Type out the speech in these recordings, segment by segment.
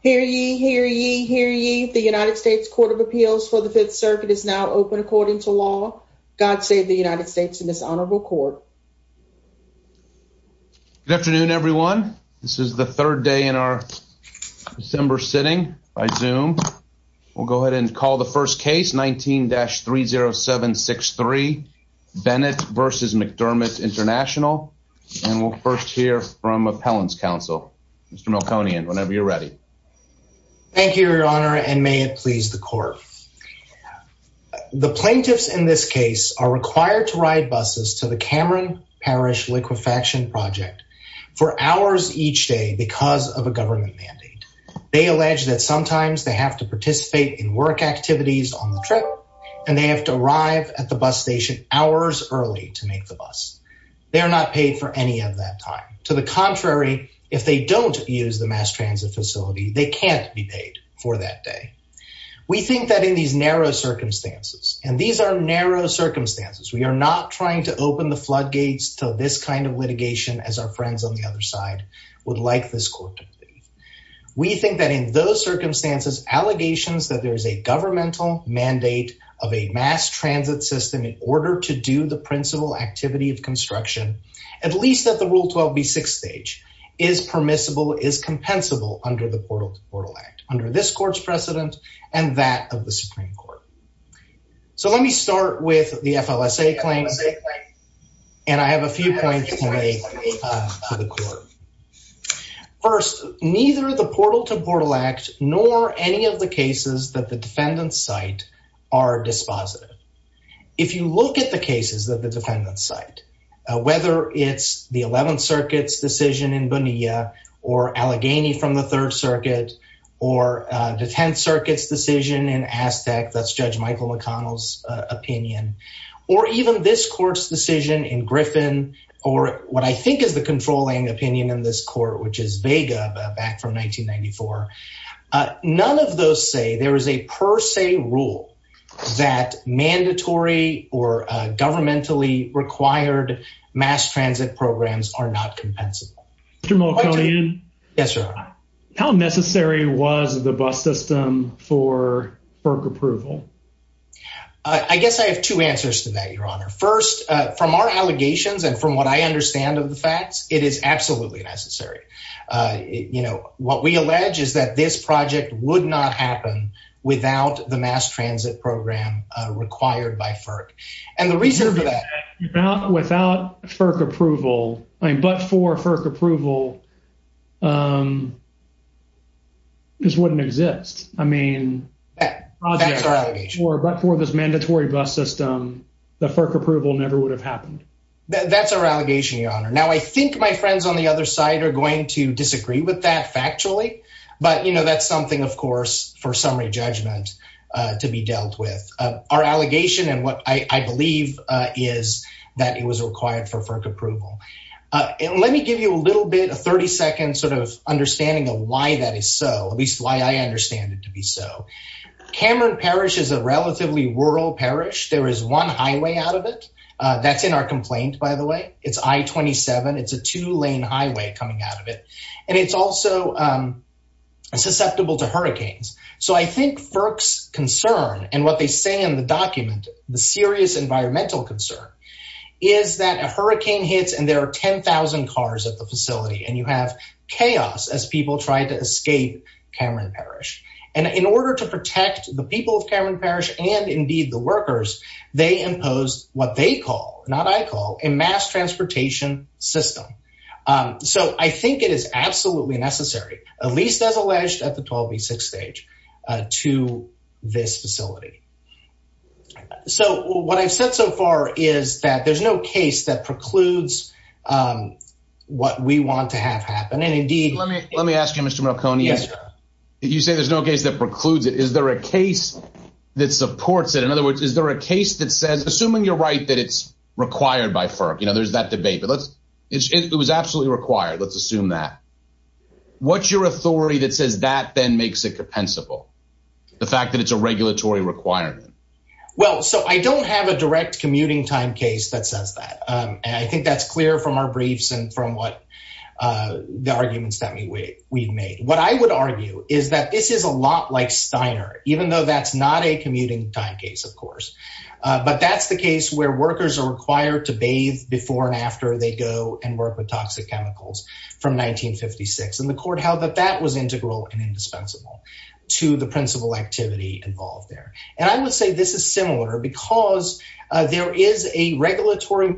Hear ye, hear ye, hear ye. The United States Court of Appeals for the Fifth Circuit is now open according to law. God save the United States and this honorable court. Good afternoon everyone. This is the third day in our December sitting by Zoom. We'll go ahead and call the first case 19-30763 Bennett v. McDermott International and we'll first hear from appellants counsel. Mr. Milconian, whenever you're ready. Thank you, your honor, and may it please the court. The plaintiffs in this case are required to ride buses to the Cameron Parish liquefaction project for hours each day because of a government mandate. They allege that sometimes they have to participate in work activities on the trip and they have to arrive at the bus station hours early to make the bus. They're not paid for any of that time. To the contrary, if they don't use the mass transit facility, they can't be paid for that day. We think that in these narrow circumstances, and these are narrow circumstances, we are not trying to open the floodgates to this kind of litigation as our friends on the other side would like this court to believe. We think that in those circumstances allegations that there is a governmental mandate of a mass transit system in order to do the principal activity of construction, at least at the Rule 12b6 stage, is permissible, is compensable under the Portal to Portal Act under this court's precedent and that of the Supreme Court. So let me start with the FLSA claim and I have a few points to make to the court. First, neither the Portal to Portal Act nor any of the cases that the defendants cite are dispositive. If you look at the cases that the defendants cite, whether it's the 11th Circuit's decision in Bonilla or Allegheny from the 3rd Circuit or the 10th Circuit's decision in Aztec, that's Judge Michael McConnell's opinion, or even this court's decision in Griffin or what I think is the controlling opinion in this court, which is Vega back from 1994, none of those say there is a per se rule that mandatory or governmentally required mass transit programs are not compensable. Mr. Mulcahyan, how necessary was the bus system for FERC approval? I guess I have two answers to that, Your Honor. First, from our allegations and from what I understand of the facts, it is absolutely necessary. You know, what we allege is that this project would not happen without the mass transit program required by FERC. And the reason for that... Without FERC approval, I mean, but for FERC approval, this wouldn't exist. I mean... That's our allegation. But for this mandatory bus system, the FERC approval never would have happened. That's our allegation, Your Honor. Now, I think my friends on the other side are going to disagree with that factually, but, you know, that's something, of course, for summary judgment to be dealt with. Our allegation and what I believe is that it was required for FERC approval. And let me give you a little bit, a 30-second sort of understanding of why that is so, at least why I understand it to be so. Cameron Parish is a relatively rural parish. There is one highway out of it. That's in our complaint, by the way. It's I-27. It's a two-lane highway coming out of it. And it's also susceptible to hurricanes. So I think FERC's concern and what they say in the document, the serious environmental concern, is that a hurricane hits and there are 10,000 cars at the facility and you have chaos as people try to escape Cameron Parish. And in order to protect the people of Cameron Parish and indeed the workers, they imposed what they call, not I call, a mass transportation system. So I think it is absolutely necessary, at least as alleged at the 12B6 stage, to this facility. So what I've said so far is that there's no case that precludes what we want to have happen. And indeed- Let me ask you, Mr. Marconi. You say there's no case that precludes it. Is there a case that supports it? In other words, is there a case that says, assuming you're right that it's required by FERC, you know, there's that debate, but let's- It was absolutely required. Let's assume that. What's your authority that says that then makes it compensable? The fact that it's a regulatory requirement? Well, so I don't have a direct commuting time case that says that. And I think that's clear from our briefs and from what the arguments that we've made. What I would is that this is a lot like Steiner, even though that's not a commuting time case, of course. But that's the case where workers are required to bathe before and after they go and work with toxic chemicals from 1956. And the court held that that was integral and indispensable to the principal activity involved there. And I would say this is similar because there is a regulatory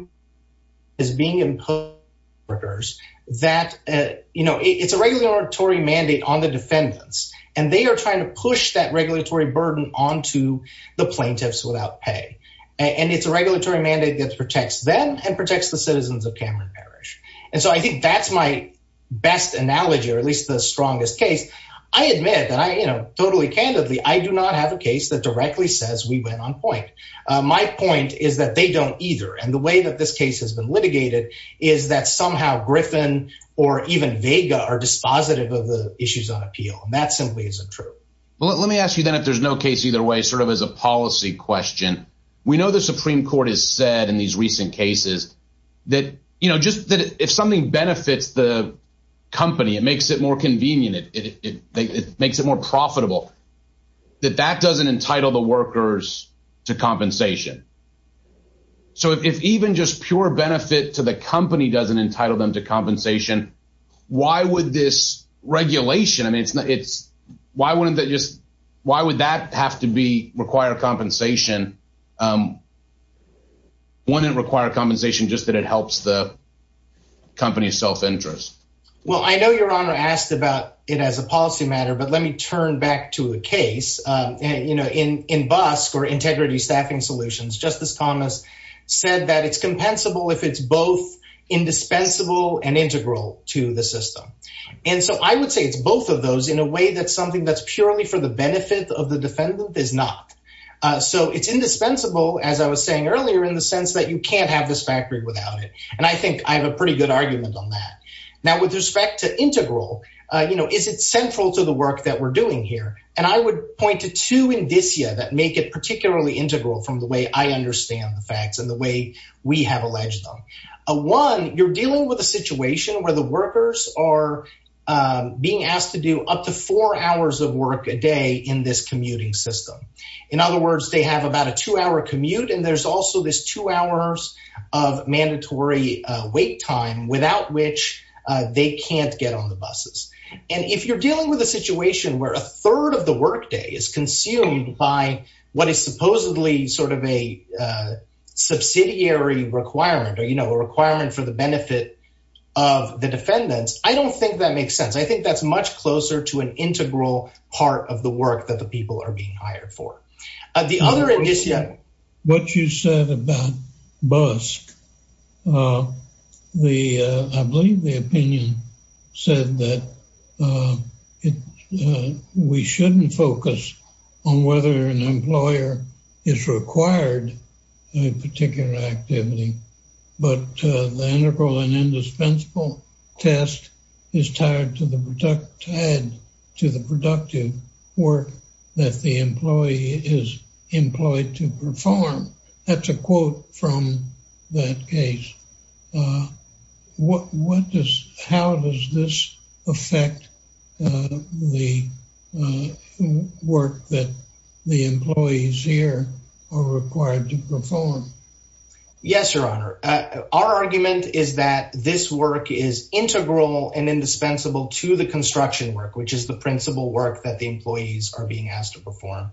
mandate on the defendants, and they are trying to push that regulatory burden onto the plaintiffs without pay. And it's a regulatory mandate that protects them and protects the citizens of Cameron Parish. And so I think that's my best analogy, or at least the strongest case. I admit that I, you know, totally candidly, I do not have a case that directly says we went on My point is that they don't either. And the way that this case has been litigated is that somehow Griffin or even Vega are dispositive of the issues on appeal. And that simply isn't true. Well, let me ask you, then, if there's no case either way, sort of as a policy question. We know the Supreme Court has said in these recent cases that, you know, just that if something benefits the company, it makes it more convenient. It makes it more profitable. That that doesn't entitle the workers to compensation. So if even just pure benefit to the company doesn't entitle them to compensation, why would this regulation? I mean, it's not it's why wouldn't that just why would that have to be require compensation? Wouldn't require compensation just that it helps the company's self interest? Well, I know your honor asked about it as a policy matter. But let me turn back to a case, you know, in in bus or integrity staffing solutions, Justice Thomas said that it's compensable if it's both indispensable and integral to the system. And so I would say it's both of those in a way that something that's purely for the benefit of the defendant is not. So it's indispensable, as I was saying earlier, in the sense that you can't have this factory without it. And I think I have a pretty good argument on that. With respect to integral, you know, is it central to the work that we're doing here? And I would point to two indicia that make it particularly integral from the way I understand the facts and the way we have alleged them. One, you're dealing with a situation where the workers are being asked to do up to four hours of work a day in this commuting system. In other words, they have about a two hour commute. And there's also this two hours of mandatory wait time without which they can't get on the buses. And if you're dealing with a situation where a third of the workday is consumed by what is supposedly sort of a subsidiary requirement or, you know, a requirement for the benefit of the defendants, I don't think that makes sense. I think that's much closer to an integral part of the work that the people are being hired for. The other indicia... What you said about BUSC, I believe the opinion said that we shouldn't focus on whether an employer is required a particular activity, but the integral and indispensable test is tied to the productive work that the employee is employed to perform. That's a quote from that case. How does this affect the work that the employees here are required to perform? I think that this work is integral and indispensable to the construction work, which is the principal work that the employees are being asked to perform.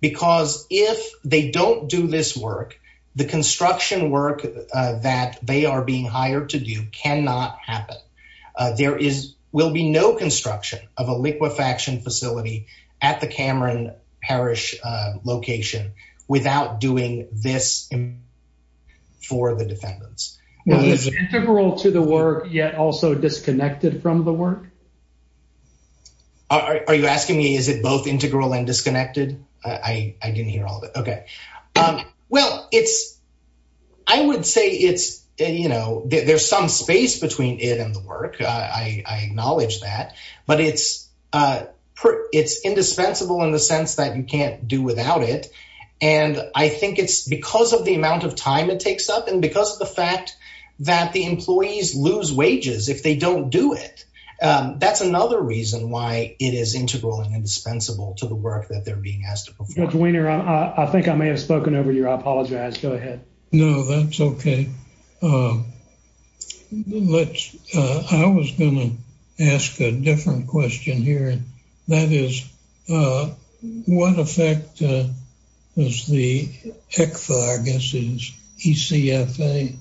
Because if they don't do this work, the construction work that they are being hired to do cannot happen. There will be no construction of a liquefaction facility at the Cameron Parish location without doing this for the defendants. Is it integral to the work, yet also disconnected from the work? Are you asking me, is it both integral and disconnected? I didn't hear all of it. Okay. Well, it's... I would say it's, you know, there's some space between it and the work. I acknowledge that. But it's indispensable in the sense that you can't do without it. And I think it's because of the amount of time it takes up and because of the fact that the employees lose wages if they don't do it. That's another reason why it is integral and indispensable to the work that they're being asked to perform. Judge Weiner, I think I may have spoken over to you. I apologize. Go ahead. No, that's okay. Let's... I was going to ask a different question here. That is, what effect does the ECFA, I guess, is ECFA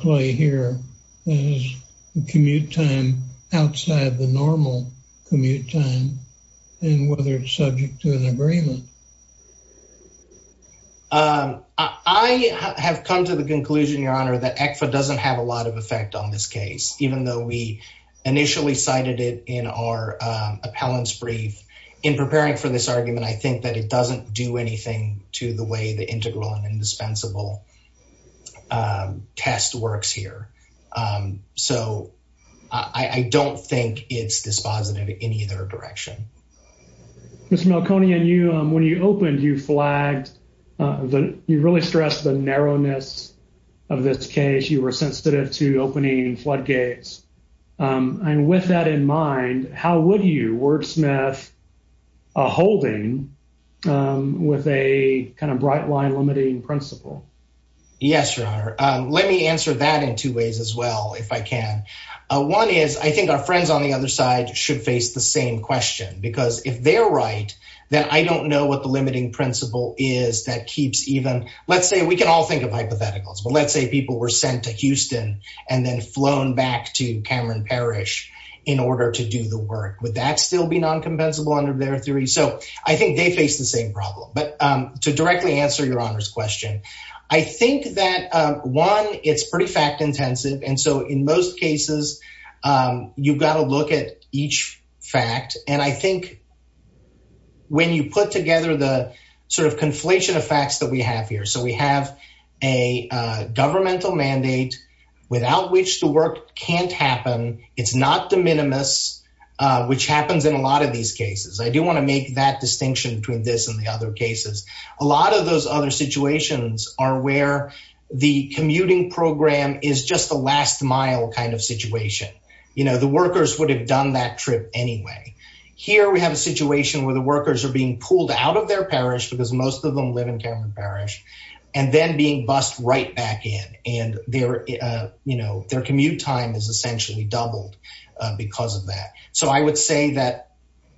play here? Is the commute time outside the normal commute time and whether it's subject to an agreement? I have come to the conclusion, Your Honor, that ECFA doesn't have a lot of effect on this case, even though we initially cited it in our appellant's brief. In preparing for this argument, I think that it doesn't do anything to the way the integral and indispensable test works here. So, I don't think it's dispositive in either direction. Mr. Malconian, when you opened, you flagged... You really stressed the narrowness of this case. You were sensitive to opening floodgates. With that in mind, how would you wordsmith a holding with a bright line limiting principle? Yes, Your Honor. Let me answer that in two ways as well, if I can. One is, I think our friends on the other side should face the same question, because if they're right, then I don't know what the limiting principle is that keeps even... and then flown back to Cameron Parish in order to do the work. Would that still be non-compensable under their theory? So, I think they face the same problem. But to directly answer Your Honor's question, I think that one, it's pretty fact intensive. And so, in most cases, you've got to look at each fact. And I think when you put together the sort of conflation of facts that have here. So, we have a governmental mandate without which the work can't happen. It's not de minimis, which happens in a lot of these cases. I do want to make that distinction between this and the other cases. A lot of those other situations are where the commuting program is just a last mile kind of situation. The workers would have done that trip anyway. Here, we have a situation where the workers are being pulled out of their parish, because most of them live in Cameron Parish, and then being bused right back in. And their commute time is essentially doubled because of that. So, I would say that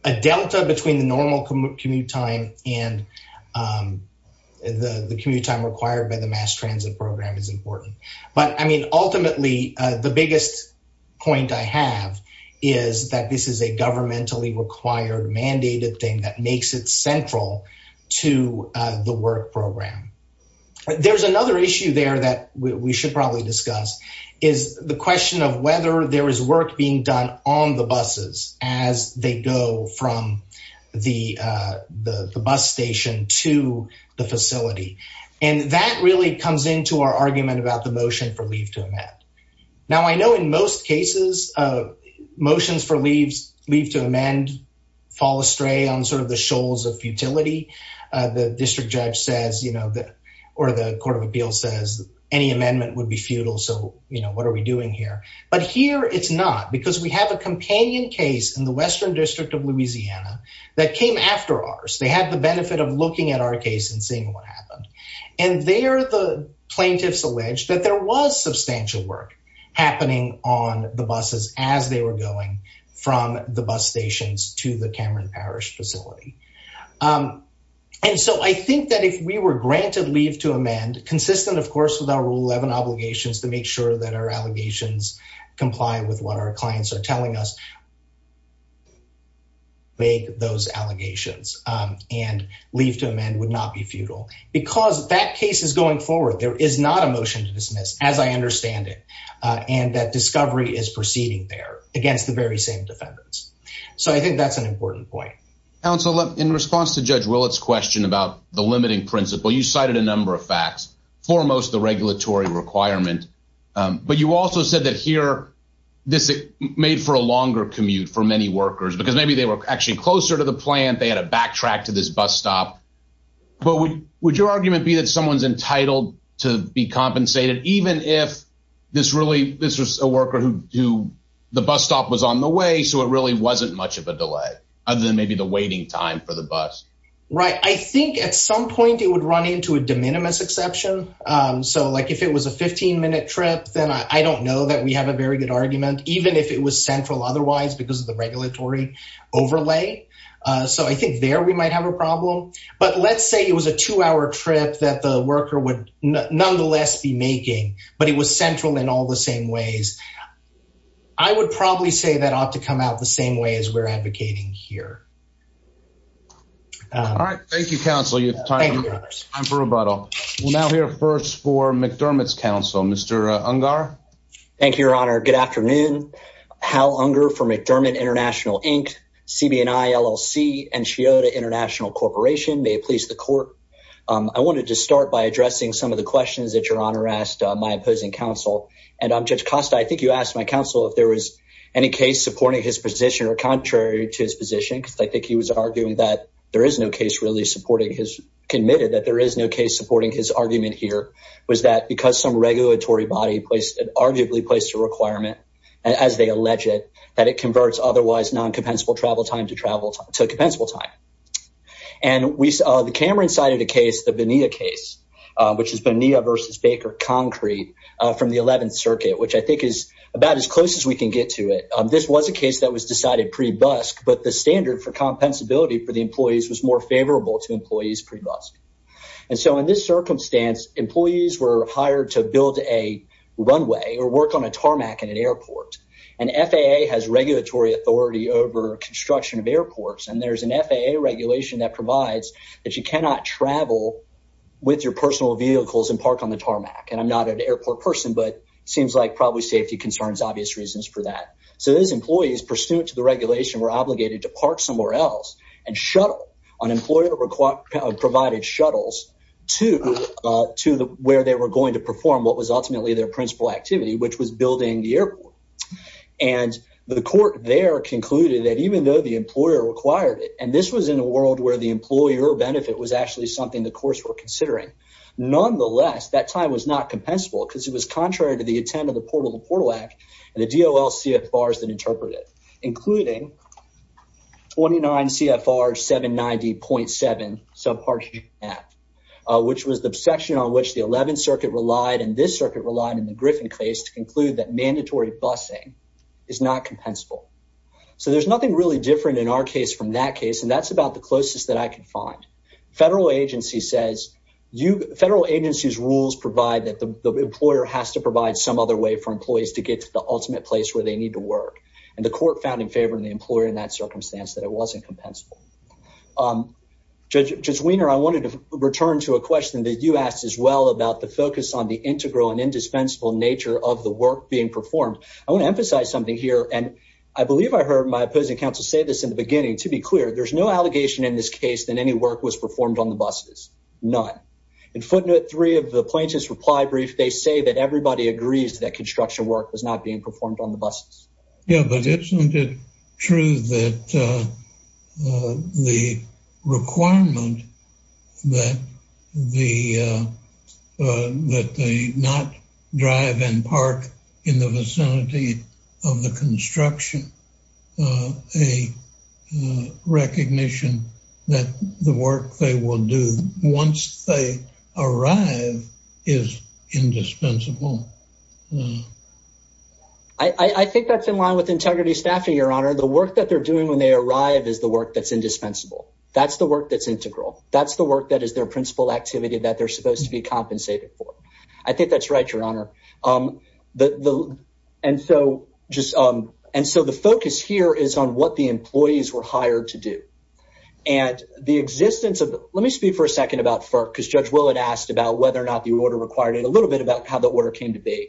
a delta between the normal commute time and the commute time required by the mass transit program is important. But I mean, ultimately, the biggest point I have is that this is a governmentally required mandated thing that the work program. There's another issue there that we should probably discuss, is the question of whether there is work being done on the buses as they go from the bus station to the facility. And that really comes into our argument about the motion for leave to amend. Now, I know in most cases, motions for leave to amend fall astray on sort of the shoals of you know, or the Court of Appeals says any amendment would be futile. So, you know, what are we doing here? But here, it's not, because we have a companion case in the Western District of Louisiana that came after ours. They had the benefit of looking at our case and seeing what happened. And there, the plaintiffs alleged that there was substantial work happening on the granted leave to amend, consistent, of course, with our Rule 11 obligations to make sure that our allegations comply with what our clients are telling us, make those allegations and leave to amend would not be futile. Because that case is going forward, there is not a motion to dismiss, as I understand it, and that discovery is proceeding there against the very same defendants. So I think that's an important point. Counsel, in response to Judge Willett's question about the limiting principle, you cited a number of facts, foremost, the regulatory requirement. But you also said that here, this made for a longer commute for many workers, because maybe they were actually closer to the plant, they had to backtrack to this bus stop. But would your argument be that someone's entitled to be compensated, even if this really, this was a worker who, the bus stop was on the way, so it really wasn't much of a delay, other than maybe the waiting time for the bus? Right. I think at some point, it would run into a de minimis exception. So like, if it was a 15 minute trip, then I don't know that we have a very good argument, even if it was central otherwise, because of the regulatory overlay. So I think there, we might have a problem. But let's say it was a two hour trip that the worker would nonetheless be making, but it was central in all the same ways. I would probably say that ought to come out the same way as we're advocating here. All right. Thank you, counsel. Time for rebuttal. We'll now hear first for McDermott's counsel, Mr. Ungar. Thank you, your honor. Good afternoon. Hal Ungar from McDermott International Inc., CB&I, LLC, and Scioto International Corporation. May it please the court. I wanted to start by addressing some of the questions that your honor asked my opposing counsel. And Judge Costa, I think you asked my counsel if there was any case supporting his position or contrary to his position, because I think he was arguing that there is no case really supporting his, committed that there is no case supporting his argument here, was that because some regulatory body placed, arguably placed a requirement, as they allege it, that it converts otherwise non-compensable travel time to travel, to compensable time. And we saw the Cameron side of the case, the Bonilla case, which is Bonilla versus Baker concrete from the 11th Circuit, which I think is about as close as we can get to it. This was a case that was decided pre-busk, but the standard for compensability for the employees was more favorable to employees pre-busk. And so in this circumstance, employees were hired to build a runway or work on a tarmac in an airport. And FAA has regulatory authority over construction of airports. And there's an FAA regulation that provides that you cannot travel with your airplane. And I'm not an airport person, but it seems like probably safety concerns, obvious reasons for that. So those employees pursuant to the regulation were obligated to park somewhere else and shuttle. An employer provided shuttles to where they were going to perform what was ultimately their principal activity, which was building the airport. And the court there concluded that even though the employer required it, and this was in a world where the employer benefit was actually something the courts were considering, nonetheless, that time was not compensable because it was contrary to the intent of the Portal to Portal Act and the DOL CFRs that interpret it, including 29 CFR 790.7 subpart GF, which was the section on which the 11th Circuit relied, and this circuit relied in the Griffin case to conclude that mandatory busing is not compensable. So there's nothing really different in our case from that case, and that's about the closest that I could find. Federal agency says federal agency's rules provide that the employer has to provide some other way for employees to get to the ultimate place where they need to work, and the court found in favor of the employer in that circumstance that it wasn't compensable. Judge Weiner, I wanted to return to a question that you asked as well about the focus on the integral and indispensable nature of the work being performed. I want to emphasize something here, and I believe I heard my opposing counsel say this in the beginning. To be clear, there's no allegation in this case that any work was performed on the buses. None. In footnote three of the plaintiff's reply brief, they say that everybody agrees that construction work was not being performed on the buses. Yeah, but isn't it true that the requirement that they not drive and park in the vicinity of the construction a recognition that the work they will do once they arrive is indispensable? I think that's in line with integrity staffing, Your Honor. The work that they're doing when they arrive is the work that's indispensable. That's the work that's integral. That's the work that is their principal activity that they're supposed to be compensated for. I think that's true. The focus here is on what the employees were hired to do. Let me speak for a second about FERC, because Judge Willard asked about whether or not the order required it. A little bit about how the order came to be.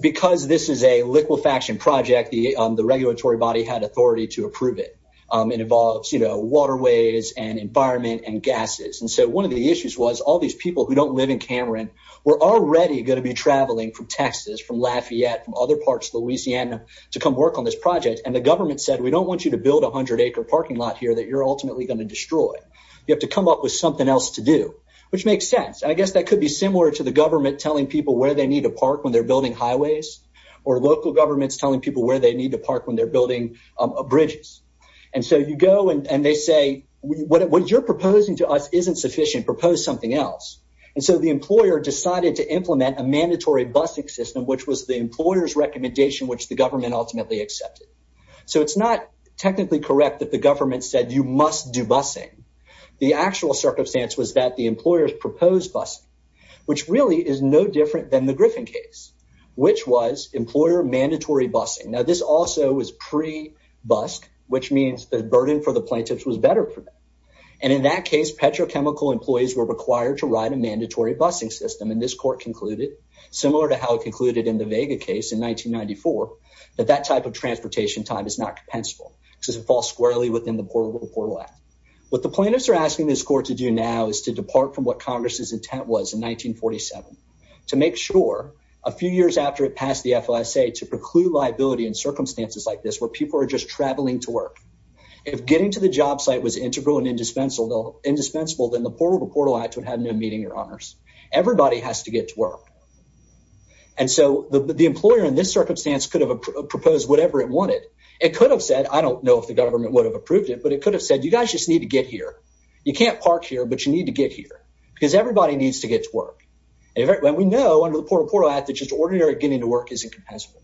Because this is a liquefaction project, the regulatory body had authority to approve it. It involves waterways and environment and gases. One of the issues was all these people who don't live in Cameron were already going to be traveling from Texas, from other parts of Louisiana to come work on this project. The government said, we don't want you to build a 100-acre parking lot here that you're ultimately going to destroy. You have to come up with something else to do, which makes sense. I guess that could be similar to the government telling people where they need to park when they're building highways, or local governments telling people where they need to park when they're building bridges. You go and they say, what you're proposing to us isn't sufficient. Propose something else. The employer decided to implement a mandatory busing system, which was the employer's recommendation, which the government ultimately accepted. It's not technically correct that the government said, you must do busing. The actual circumstance was that the employers proposed busing, which really is no different than the Griffin case, which was employer mandatory busing. This also was pre-busk, which means the burden for the plaintiffs was better for them. In that case, petrochemical employees were required to write a mandatory busing system. This court concluded, similar to how it concluded in the Vega case in 1994, that that type of transportation time is not compensable because it falls squarely within the Portable Portal Act. What the plaintiffs are asking this court to do now is to depart from what Congress's intent was in 1947, to make sure a few years after it passed the FOSA to preclude liability in circumstances like this, where people are just traveling to work. If getting to the job site was integral and indispensable, then the Portable Portal Act would have no meaning or honors. Everybody has to get to work. And so the employer in this circumstance could have proposed whatever it wanted. It could have said, I don't know if the government would have approved it, but it could have said, you guys just need to get here. You can't park here, but you need to get here because everybody needs to get to work. And we know under the Portable Portal Act that just ordinary getting to work isn't compensable.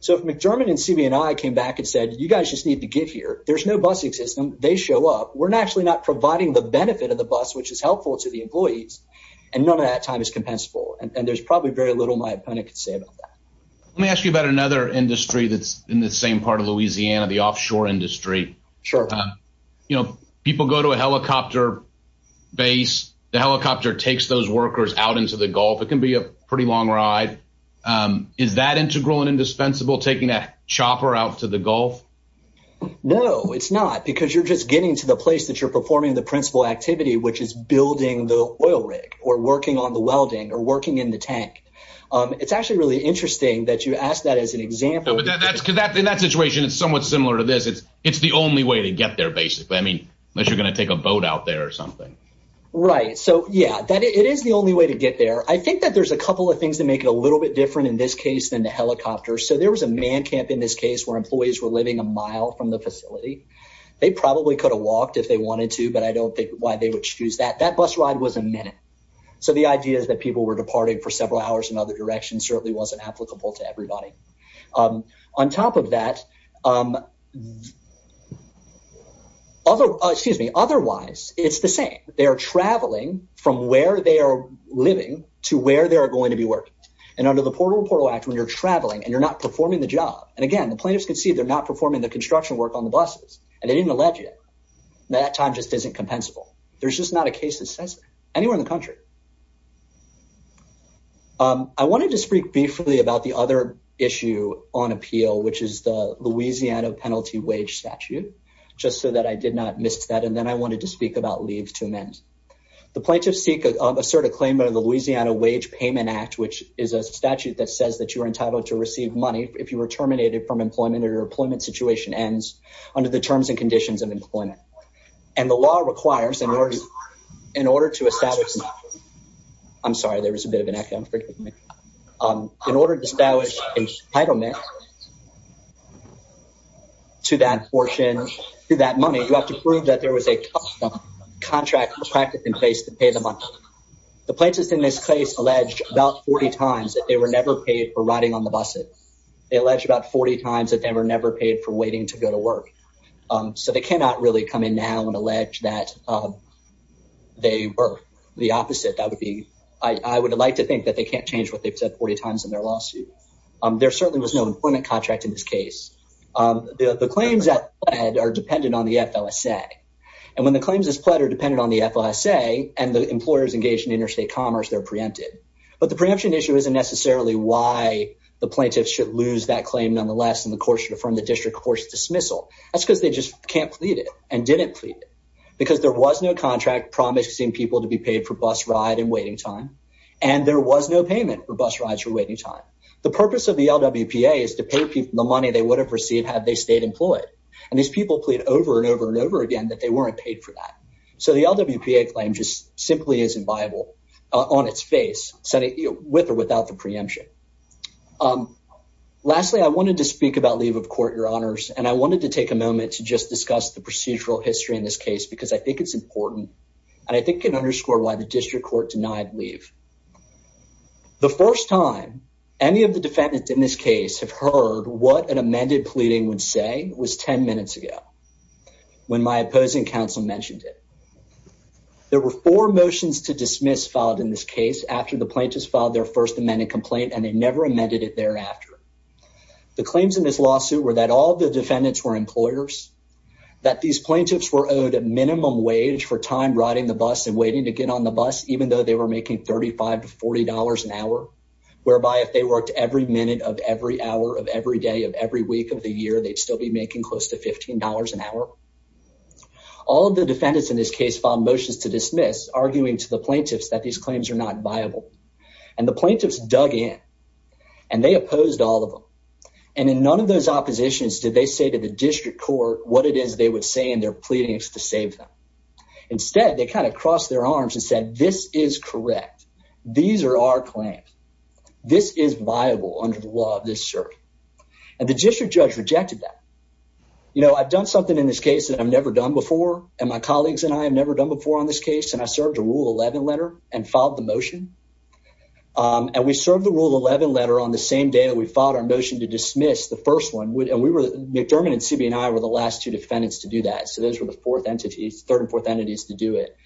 So if McDermott and CB&I came back and said, you guys just need to get here. There's no busing system. They show up. We're naturally not providing the benefit of the employees. And none of that time is compensable. And there's probably very little my opponent could say about that. Let me ask you about another industry that's in the same part of Louisiana, the offshore industry. Sure. You know, people go to a helicopter base. The helicopter takes those workers out into the Gulf. It can be a pretty long ride. Is that integral and indispensable, taking a chopper out to the Gulf? No, it's not, because you're just getting to the place that performing the principal activity, which is building the oil rig or working on the welding or working in the tank. It's actually really interesting that you ask that as an example. In that situation, it's somewhat similar to this. It's the only way to get there, basically. I mean, unless you're going to take a boat out there or something. Right. So, yeah, it is the only way to get there. I think that there's a couple of things that make it a little bit different in this case than the helicopter. So there was a man camp in this case where employees were living a mile from the facility. They probably could have walked if they wanted to, but I don't think why they would choose that. That bus ride was a minute. So the idea is that people were departing for several hours in other directions certainly wasn't applicable to everybody. On top of that. Although, excuse me, otherwise, it's the same. They are traveling from where they are living to where they are going to be working. And under the Portal to Portal Act, when you're traveling and you're not performing the job. And again, the plaintiffs can see they're not performing the construction work on the buses and they didn't allege it. That time just isn't compensable. There's just not a case that says anywhere in the country. I wanted to speak briefly about the other issue on appeal, which is the Louisiana Penalty Wage Statute, just so that I did not miss that. And then I wanted to speak about leaves to amend the plaintiffs seek assert a claim under the Louisiana Wage Payment Act, which is a statute that says that you are entitled to receive money if you were terminated from employment or employment situation ends under the terms and conditions of employment. And the law requires in order in order to establish, I'm sorry, there was a bit of an echo. In order to establish entitlement to that portion, to that money, you have to prove that there was a contract or practice in place to pay the money. The plaintiffs in this case alleged about 40 times that they were never paid for riding on the buses. They alleged about 40 times that they were never paid for waiting to go to work. So they cannot really come in now and allege that they were the opposite. That would be, I would like to think that they can't change what they've said 40 times in their lawsuit. There certainly was no employment contract in this case. The claims that are dependent on the FLSA. And when the claims is platter dependent on the FLSA and the employers engaged in interstate commerce, they're preempted. But the preemption issue isn't why the plaintiffs should lose that claim nonetheless. And the court should affirm the district court's dismissal. That's because they just can't plead it and didn't plead it. Because there was no contract promising people to be paid for bus ride and waiting time. And there was no payment for bus rides for waiting time. The purpose of the LWPA is to pay people the money they would have received had they stayed employed. And these people plead over and over and over again that they weren't paid for that. So the LWPA claim just simply isn't viable on its face with or without the preemption. Lastly, I wanted to speak about leave of court, your honors. And I wanted to take a moment to just discuss the procedural history in this case because I think it's important. And I think it can underscore why the district court denied leave. The first time any of the defendants in this case have heard what an amended pleading would say was 10 minutes ago when my opposing counsel mentioned it. There were four motions to dismiss filed in this case, after the plaintiffs filed their first amended complaint, and they never amended it thereafter. The claims in this lawsuit were that all the defendants were employers, that these plaintiffs were owed a minimum wage for time riding the bus and waiting to get on the bus, even though they were making $35 to $40 an hour, whereby if they worked every minute of every hour of every day of every week of the year, they'd still be making close to $15 an hour. All of the defendants in this case filed motions to dismiss, arguing to the plaintiffs that these claims are not viable. And the plaintiffs dug in, and they opposed all of them. And in none of those oppositions did they say to the district court what it is they would say in their pleadings to save them. Instead, they kind of crossed their arms and said, this is correct. These are our claims. This is viable under the law of this circuit. And the district judge rejected that. You know, I've done something in this case that I've never done before, and my colleagues and I have never done before on this case. And I served a Rule 11 letter and filed the motion. And we served the Rule 11 letter on the same day that we filed our motion to dismiss the first one. And McDermott and CB&I were the last two defendants to do that. So those were the third and fourth entities to do it.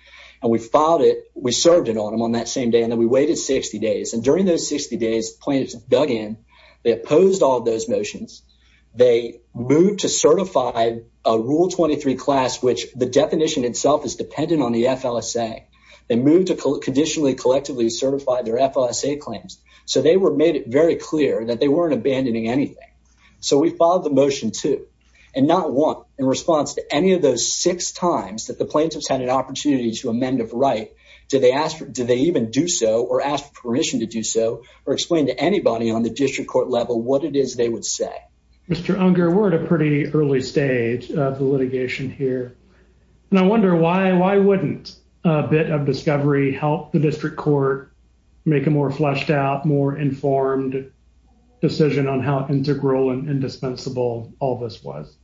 And we filed it. We served it on them on that same day. And then we waited 60 days. And during those 60 days, the plaintiffs dug in. They opposed all of those motions. They moved to certify a Rule 23 class, which the definition itself is dependent on the FLSA. They moved to conditionally collectively certify their FLSA claims. So they were made it very clear that they weren't abandoning anything. So we filed the motion too. And not one, in response to any of those six times that the plaintiffs had an opportunity to amend of right, did they even do so or ask permission to do so or explain to anybody on the district court level what it is they would say. Mr. Unger, we're at a pretty early stage of the litigation here. And I wonder why wouldn't a bit of discovery help the district court make a more fleshed out, more informed decision on how integral and indispensable all this was?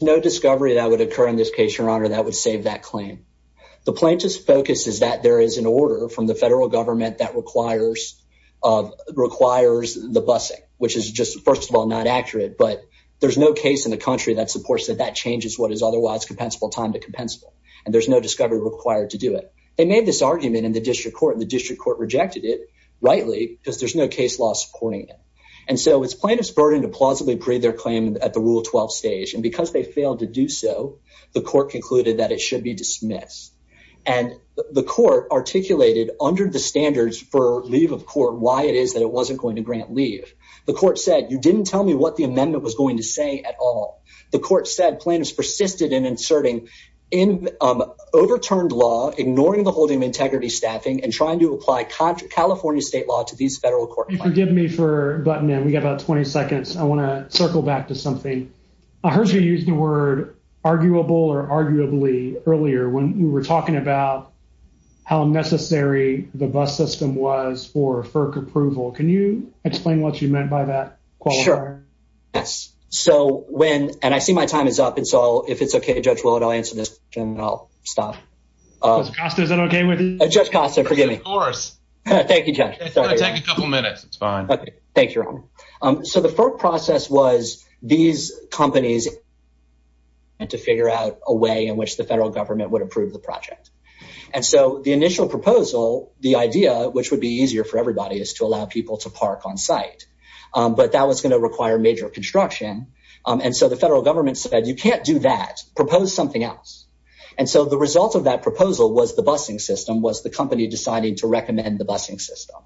No discovery that would occur in this case, Your Honor, that would save that claim. The plaintiff's focus is that there is an order from the federal government that requires of requires the busing, which is just, first of all, not accurate. But there's no case in the country that supports that that changes what is otherwise compensable time to compensable. And there's no discovery required to do it. They made this argument in the district court. The district court rejected it, rightly, because there's no case law supporting it. And so it's plaintiff's burden to plausibly breathe their claim at the Rule 12 stage. And because they failed to do so, the court concluded that it should be dismissed. And the court articulated under the standards for leave of court why it is that it wasn't going to grant leave. The court said, you didn't tell me what the amendment was going to say at all. The court said plaintiffs persisted in inserting overturned law, ignoring the holding of integrity staffing and trying to apply California state law to these federal court. You forgive me for butting in. We got about 20 seconds. I want to circle back to something. I heard you use the word arguable or arguably earlier when we were talking about how necessary the bus system was for FERC approval. Can you explain what you meant by that? Sure. Yes. So when and I see my time is up. And so if it's OK, Judge Willard, I'll answer this and I'll stop. Is that OK with you? Judge Costa, forgive me. Of course. Thank you, Judge. It's going to take a couple of minutes. It's fine. Thank you. So the FERC process was these companies and to figure out a way in which the federal government would approve the project. And so the initial proposal, the idea, which would be easier for everybody, is to allow people to park on site. But that was going to require major construction. And so the federal government said, you can't do that. Propose something else. And so the result of that proposal was the busing system was the company deciding to recommend the busing system.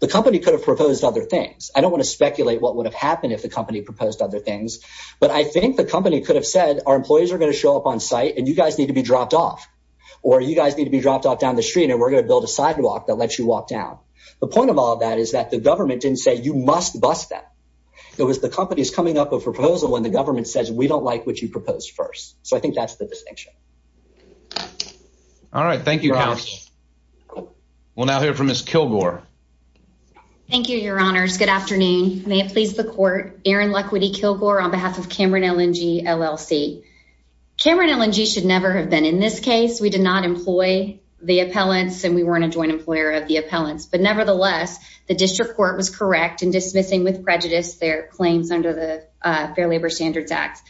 The company could have proposed other things. I don't want to speculate what would have happened if the company proposed other things, but I think the company could have said our employees are going to show up on site and you guys need to be dropped off or you guys need to be dropped off down the street and we're going to build a sidewalk that lets you walk down. The point of all that is that the government didn't say you must bust that. It was the company's coming up a proposal when the government says we don't like what you proposed first. So I think that's the distinction. All right. Thank you. We'll now hear from Ms. Kilgore. Thank you, your honors. Good afternoon. May it please the court. Erin Luckwitty, Kilgore on behalf of Cameron LNG, LLC. Cameron LNG should never have been in this case. We did not employ the appellants and we weren't a joint employer of the appellants. But nevertheless, the district court was correct in dismissing with prejudice their claims under the Fair Labor Standards Act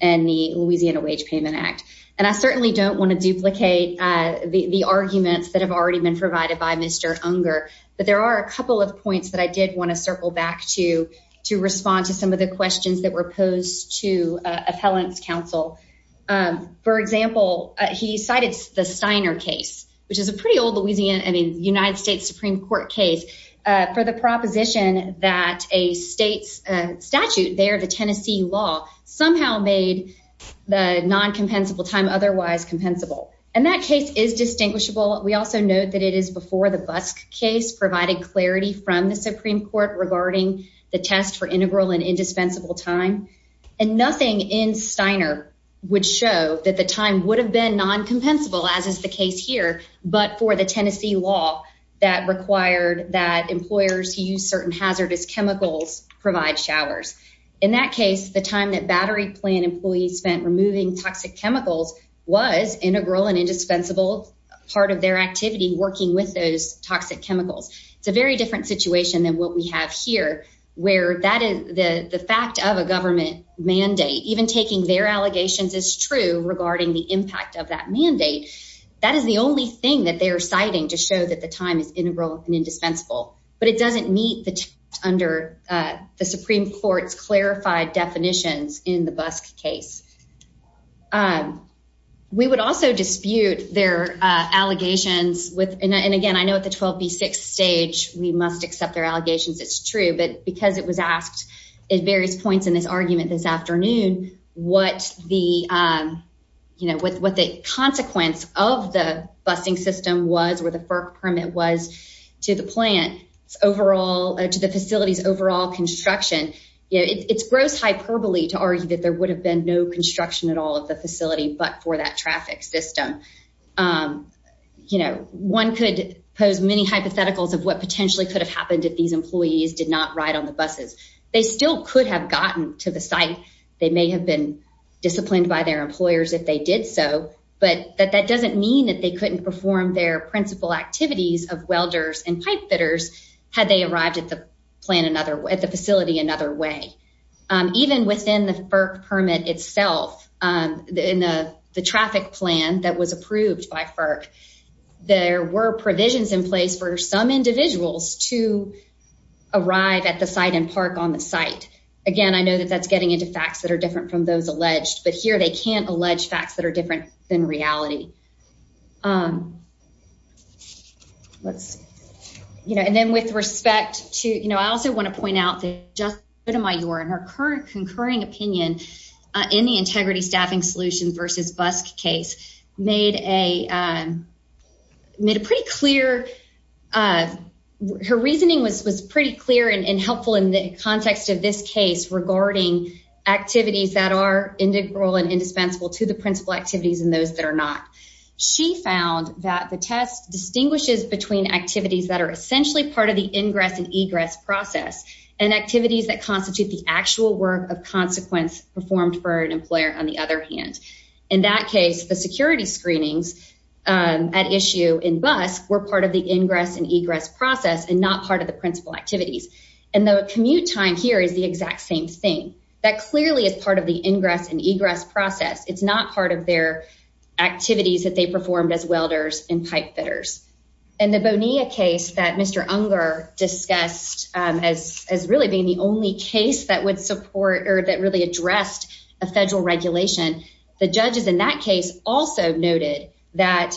and the Louisiana Wage Payment Act. And I certainly don't want to duplicate the arguments that have already been provided by Mr. Unger. But there are a couple of points that I did want to circle back to, to respond to some of the questions that were posed to appellants counsel. For example, he cited the Steiner case, which is a pretty old Louisiana, I mean, United States Supreme Court case for the proposition that a state's statute there, the Tennessee law, somehow made the non-compensable time otherwise compensable. And that case is distinguishable. We also note that it is before the Busk case provided clarity from the Supreme Court regarding the test for integral and indispensable time. And nothing in Steiner would show that the time would have been non-compensable as is the case here, but for the Tennessee law that required that battery plant employees spent removing toxic chemicals was integral and indispensable part of their activity working with those toxic chemicals. It's a very different situation than what we have here, where that is the fact of a government mandate, even taking their allegations is true regarding the impact of that mandate. That is the only thing that they're citing to show that the time is integral and indispensable, but it doesn't meet the, under the Supreme Court's clarified definitions in the Busk case. We would also dispute their allegations with, and again, I know at the 12B6 stage, we must accept their allegations. It's true, but because it was asked at various points in this argument this afternoon, what the, you know, what the consequence of the busing system was, where the FERC permit was to the plant's overall, to the facility's overall construction, you know, it's gross hyperbole to argue that there would have been no construction at all of the facility, but for that traffic system. You know, one could pose many hypotheticals of what potentially could have happened if these employees did not ride on the buses. They still could have gotten to the site. They may have been disciplined by their employers if they did so, but that doesn't mean that they couldn't perform their principal activities of welders and pipe fitters had they arrived at the plant another way, at the facility another way. Even within the FERC permit itself, in the traffic plan that was approved by FERC, there were provisions in place for some individuals to arrive at the site and park on the site. Again, I know that that's getting into facts that are different from those alleged, but here they can't allege facts that are different than reality. Let's, you know, and then with respect to, you know, I also want to point out that Justina Mayor in her current concurring opinion in the Integrity Staffing Solutions versus BUSC case made a, made a pretty clear, her reasoning was pretty clear and helpful in the context of this case regarding activities that are integral and indispensable to the principal activities and those that are not. She found that the test distinguishes between activities that are essentially part of the ingress and egress process and activities that constitute the actual work of consequence performed for an employer on the other hand. In that case, the security screenings at issue in BUSC were part of the ingress and egress process and not part of the principal activities, and the commute time here is the exact same thing. That clearly is part of the ingress and egress process. It's not part of their activities that they performed as welders and pipe fitters. In the Bonilla case that Mr. Unger discussed as really being the only case that would support or that really addressed a federal regulation, the judges in that case also noted that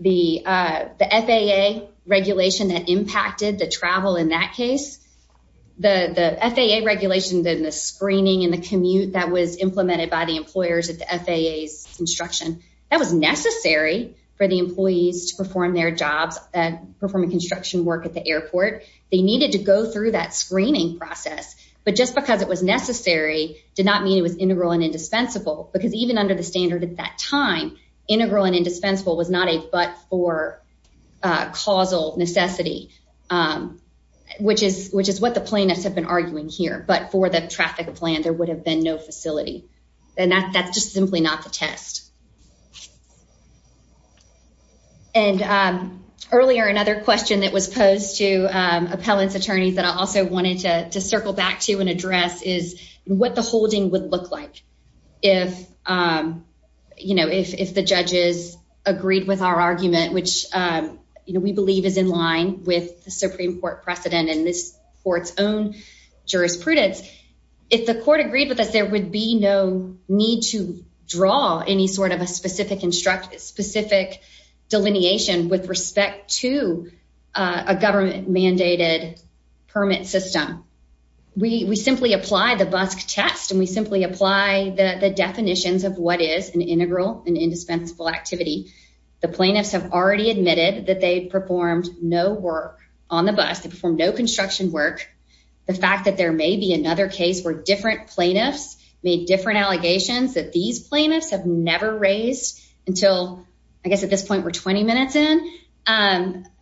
the FAA regulation that impacted the travel in that case, the FAA regulations and the screening and the commute that was implemented by the employers at the FAA's construction, that was necessary for the employees to perform their jobs at performing construction work at the airport. They needed to go through that screening process, but just because it was necessary did not mean it was integral and indispensable, because even under the standard at that time, integral and indispensable was not a but for causal necessity, which is what the plaintiffs have been arguing here. But for the traffic plan, there would have been no facility, and that's just simply not the test. And earlier, another question that was posed to appellants' attorneys that I also wanted to circle back to and address is what the holding would look like if the judges agreed with our we believe is in line with the Supreme Court precedent and this court's own jurisprudence. If the court agreed with us, there would be no need to draw any sort of a specific delineation with respect to a government-mandated permit system. We simply apply the BUSC test, and we simply apply the definitions of what is an integral and indispensable activity. The plaintiffs have already admitted that they performed no work on the bus. They performed no construction work. The fact that there may be another case where different plaintiffs made different allegations that these plaintiffs have never raised until, I guess, at this point we're 20 minutes in,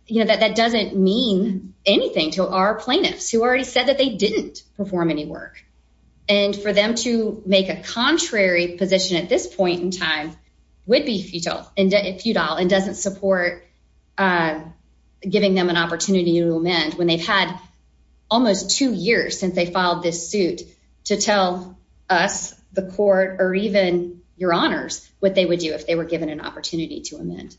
you know, that doesn't mean anything to our plaintiffs who already said that they didn't perform any work. And for them to make a contrary position at this point in time would be futile and doesn't support giving them an opportunity to amend when they've had almost two years since they filed this suit to tell us, the court, or even your honors what they would do if they were given an opportunity to amend.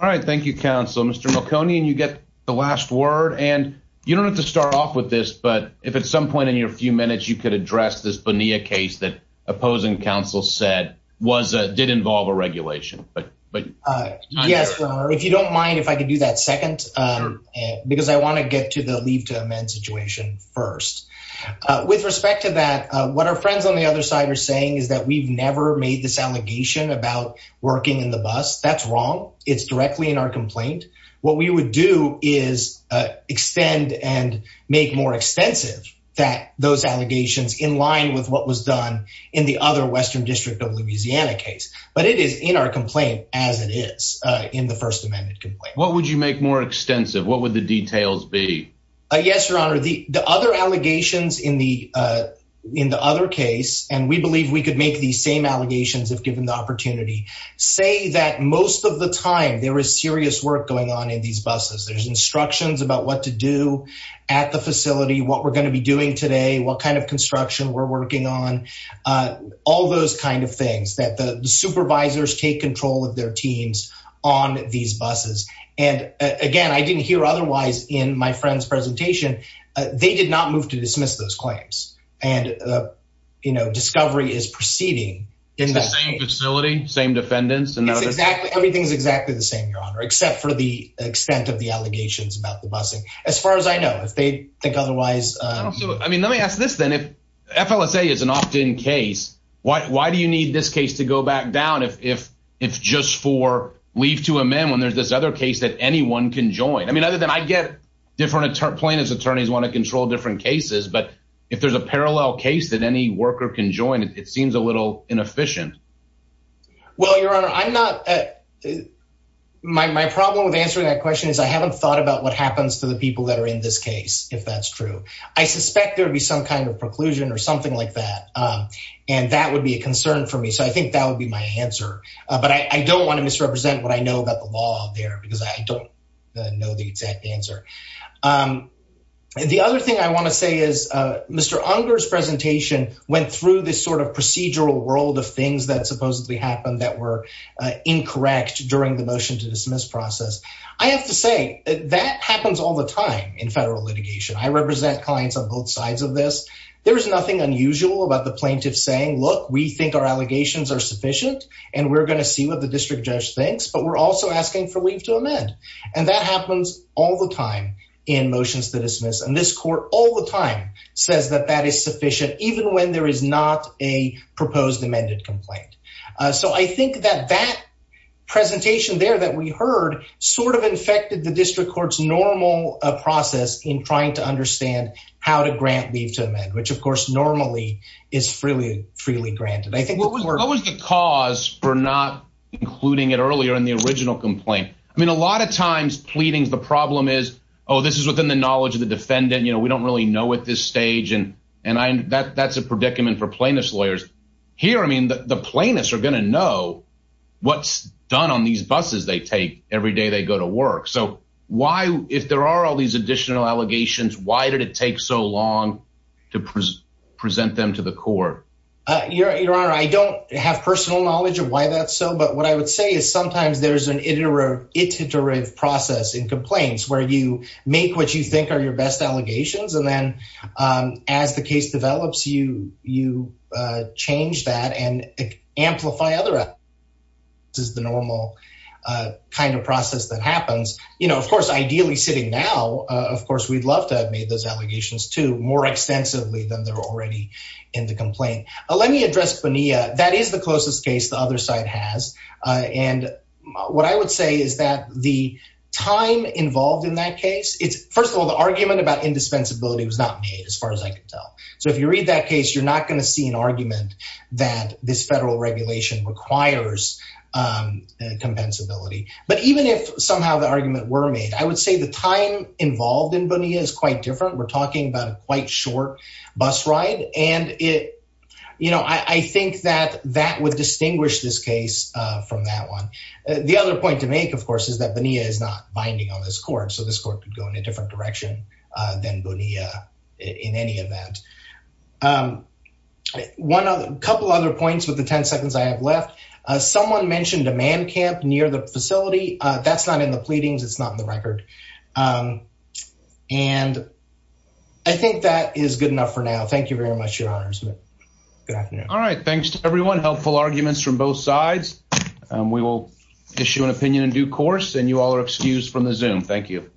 All right, thank you, counsel. Mr. Melconian, you get the last word. And you don't have to start off with this, but if at some point in your few minutes you could address this Bonilla case that opposing counsel said did involve a regulation. Yes, if you don't mind if I could do that second, because I want to get to the leave to amend situation first. With respect to that, what our friends on the other side are saying is that we've never made this allegation about working in the bus. That's wrong. It's those allegations in line with what was done in the other Western District of Louisiana case. But it is in our complaint as it is in the First Amendment complaint. What would you make more extensive? What would the details be? Yes, your honor. The other allegations in the other case, and we believe we could make these same allegations if given the opportunity, say that most of the time there is serious work going on in these buses. There's instructions about what to do at the facility, what we're going to be doing today, what kind of construction we're working on. All those kind of things that the supervisors take control of their teams on these buses. And again, I didn't hear otherwise in my friend's presentation. They did not move to dismiss those claims. And, you know, discovery is proceeding in the same facility, same defendants. And it's exactly everything's exactly the same, your honor, except for the extent of the allegations about the busing. As far as I know, if they think otherwise. I mean, let me ask this then, if FLSA is an opt-in case, why do you need this case to go back down if it's just for leave to amend when there's this other case that anyone can join? I mean, other than I get different plaintiffs attorneys want to control different cases, but if there's a parallel case that any worker can join, it seems a little inefficient. Well, your honor, I'm not. My problem with answering that question is I haven't thought about what happens to the people that are in this case. If that's true, I suspect there would be some kind of preclusion or something like that. And that would be a concern for me. So I think that would be my answer. But I don't want to misrepresent what I know about the law there because I don't know the exact answer. The other thing I want to say is Mr. Unger's presentation went through this sort of procedural world of things that supposedly happened that were incorrect during the motion to dismiss process. I have to say that happens all the time in federal litigation. I represent clients on both sides of this. There is nothing unusual about the plaintiff saying, look, we think our allegations are sufficient and we're going to see what the district judge thinks, but we're also asking for leave to amend. And that happens all the time in motions to dismiss. And this court all the time says that that is sufficient, even when there is not a proposed amended complaint. So I think that that presentation there that we heard sort of infected the district court's normal process in trying to understand how to grant leave to amend, which of course normally is freely granted. I think what was the cause for not including it earlier in the original complaint? I mean, a lot of times pleadings, the problem is, oh, this is within the knowledge of the defendant. We don't really know at this stage and that's a predicament for plaintiff's lawyers. Here, I mean, the plaintiffs are going to know what's done on these buses they take every day they go to work. So why, if there are all these additional allegations, why did it take so long to present them to the court? Your Honor, I don't have personal knowledge of why that's so, but what I would say is sometimes there's an iterative process in complaints where you make what you think are your best allegations. And then as the case develops, you change that and amplify other... is the normal kind of process that happens. Of course, ideally sitting now, of course, we'd love to have made those allegations too, more extensively than they're already in the complaint. Let me address Bonilla. That is the closest case the other side has. And what I would say is that the time involved in that case, it's first of all, the argument about indispensability was not made as far as I can tell. So if you read that case, you're not going to see an argument that this federal regulation requires compensability. But even if somehow the argument were made, I would say the time involved in Bonilla is quite different. We're talking about a quite short bus ride. And I think that that would distinguish this case from that one. The other point to make, of course, is that Bonilla is not binding on this court. So this court could go in a different direction than Bonilla in any event. A couple other points with the 10 seconds I have left. Someone mentioned a man camp near the facility. That's not in the pleadings. It's not in the record. And I think that is good enough for now. Thank you very much, Your Honors. Good afternoon. All right. Thanks to everyone. Helpful arguments from both sides. We will issue an opinion in due course, and you all are excused from the Zoom. Thank you.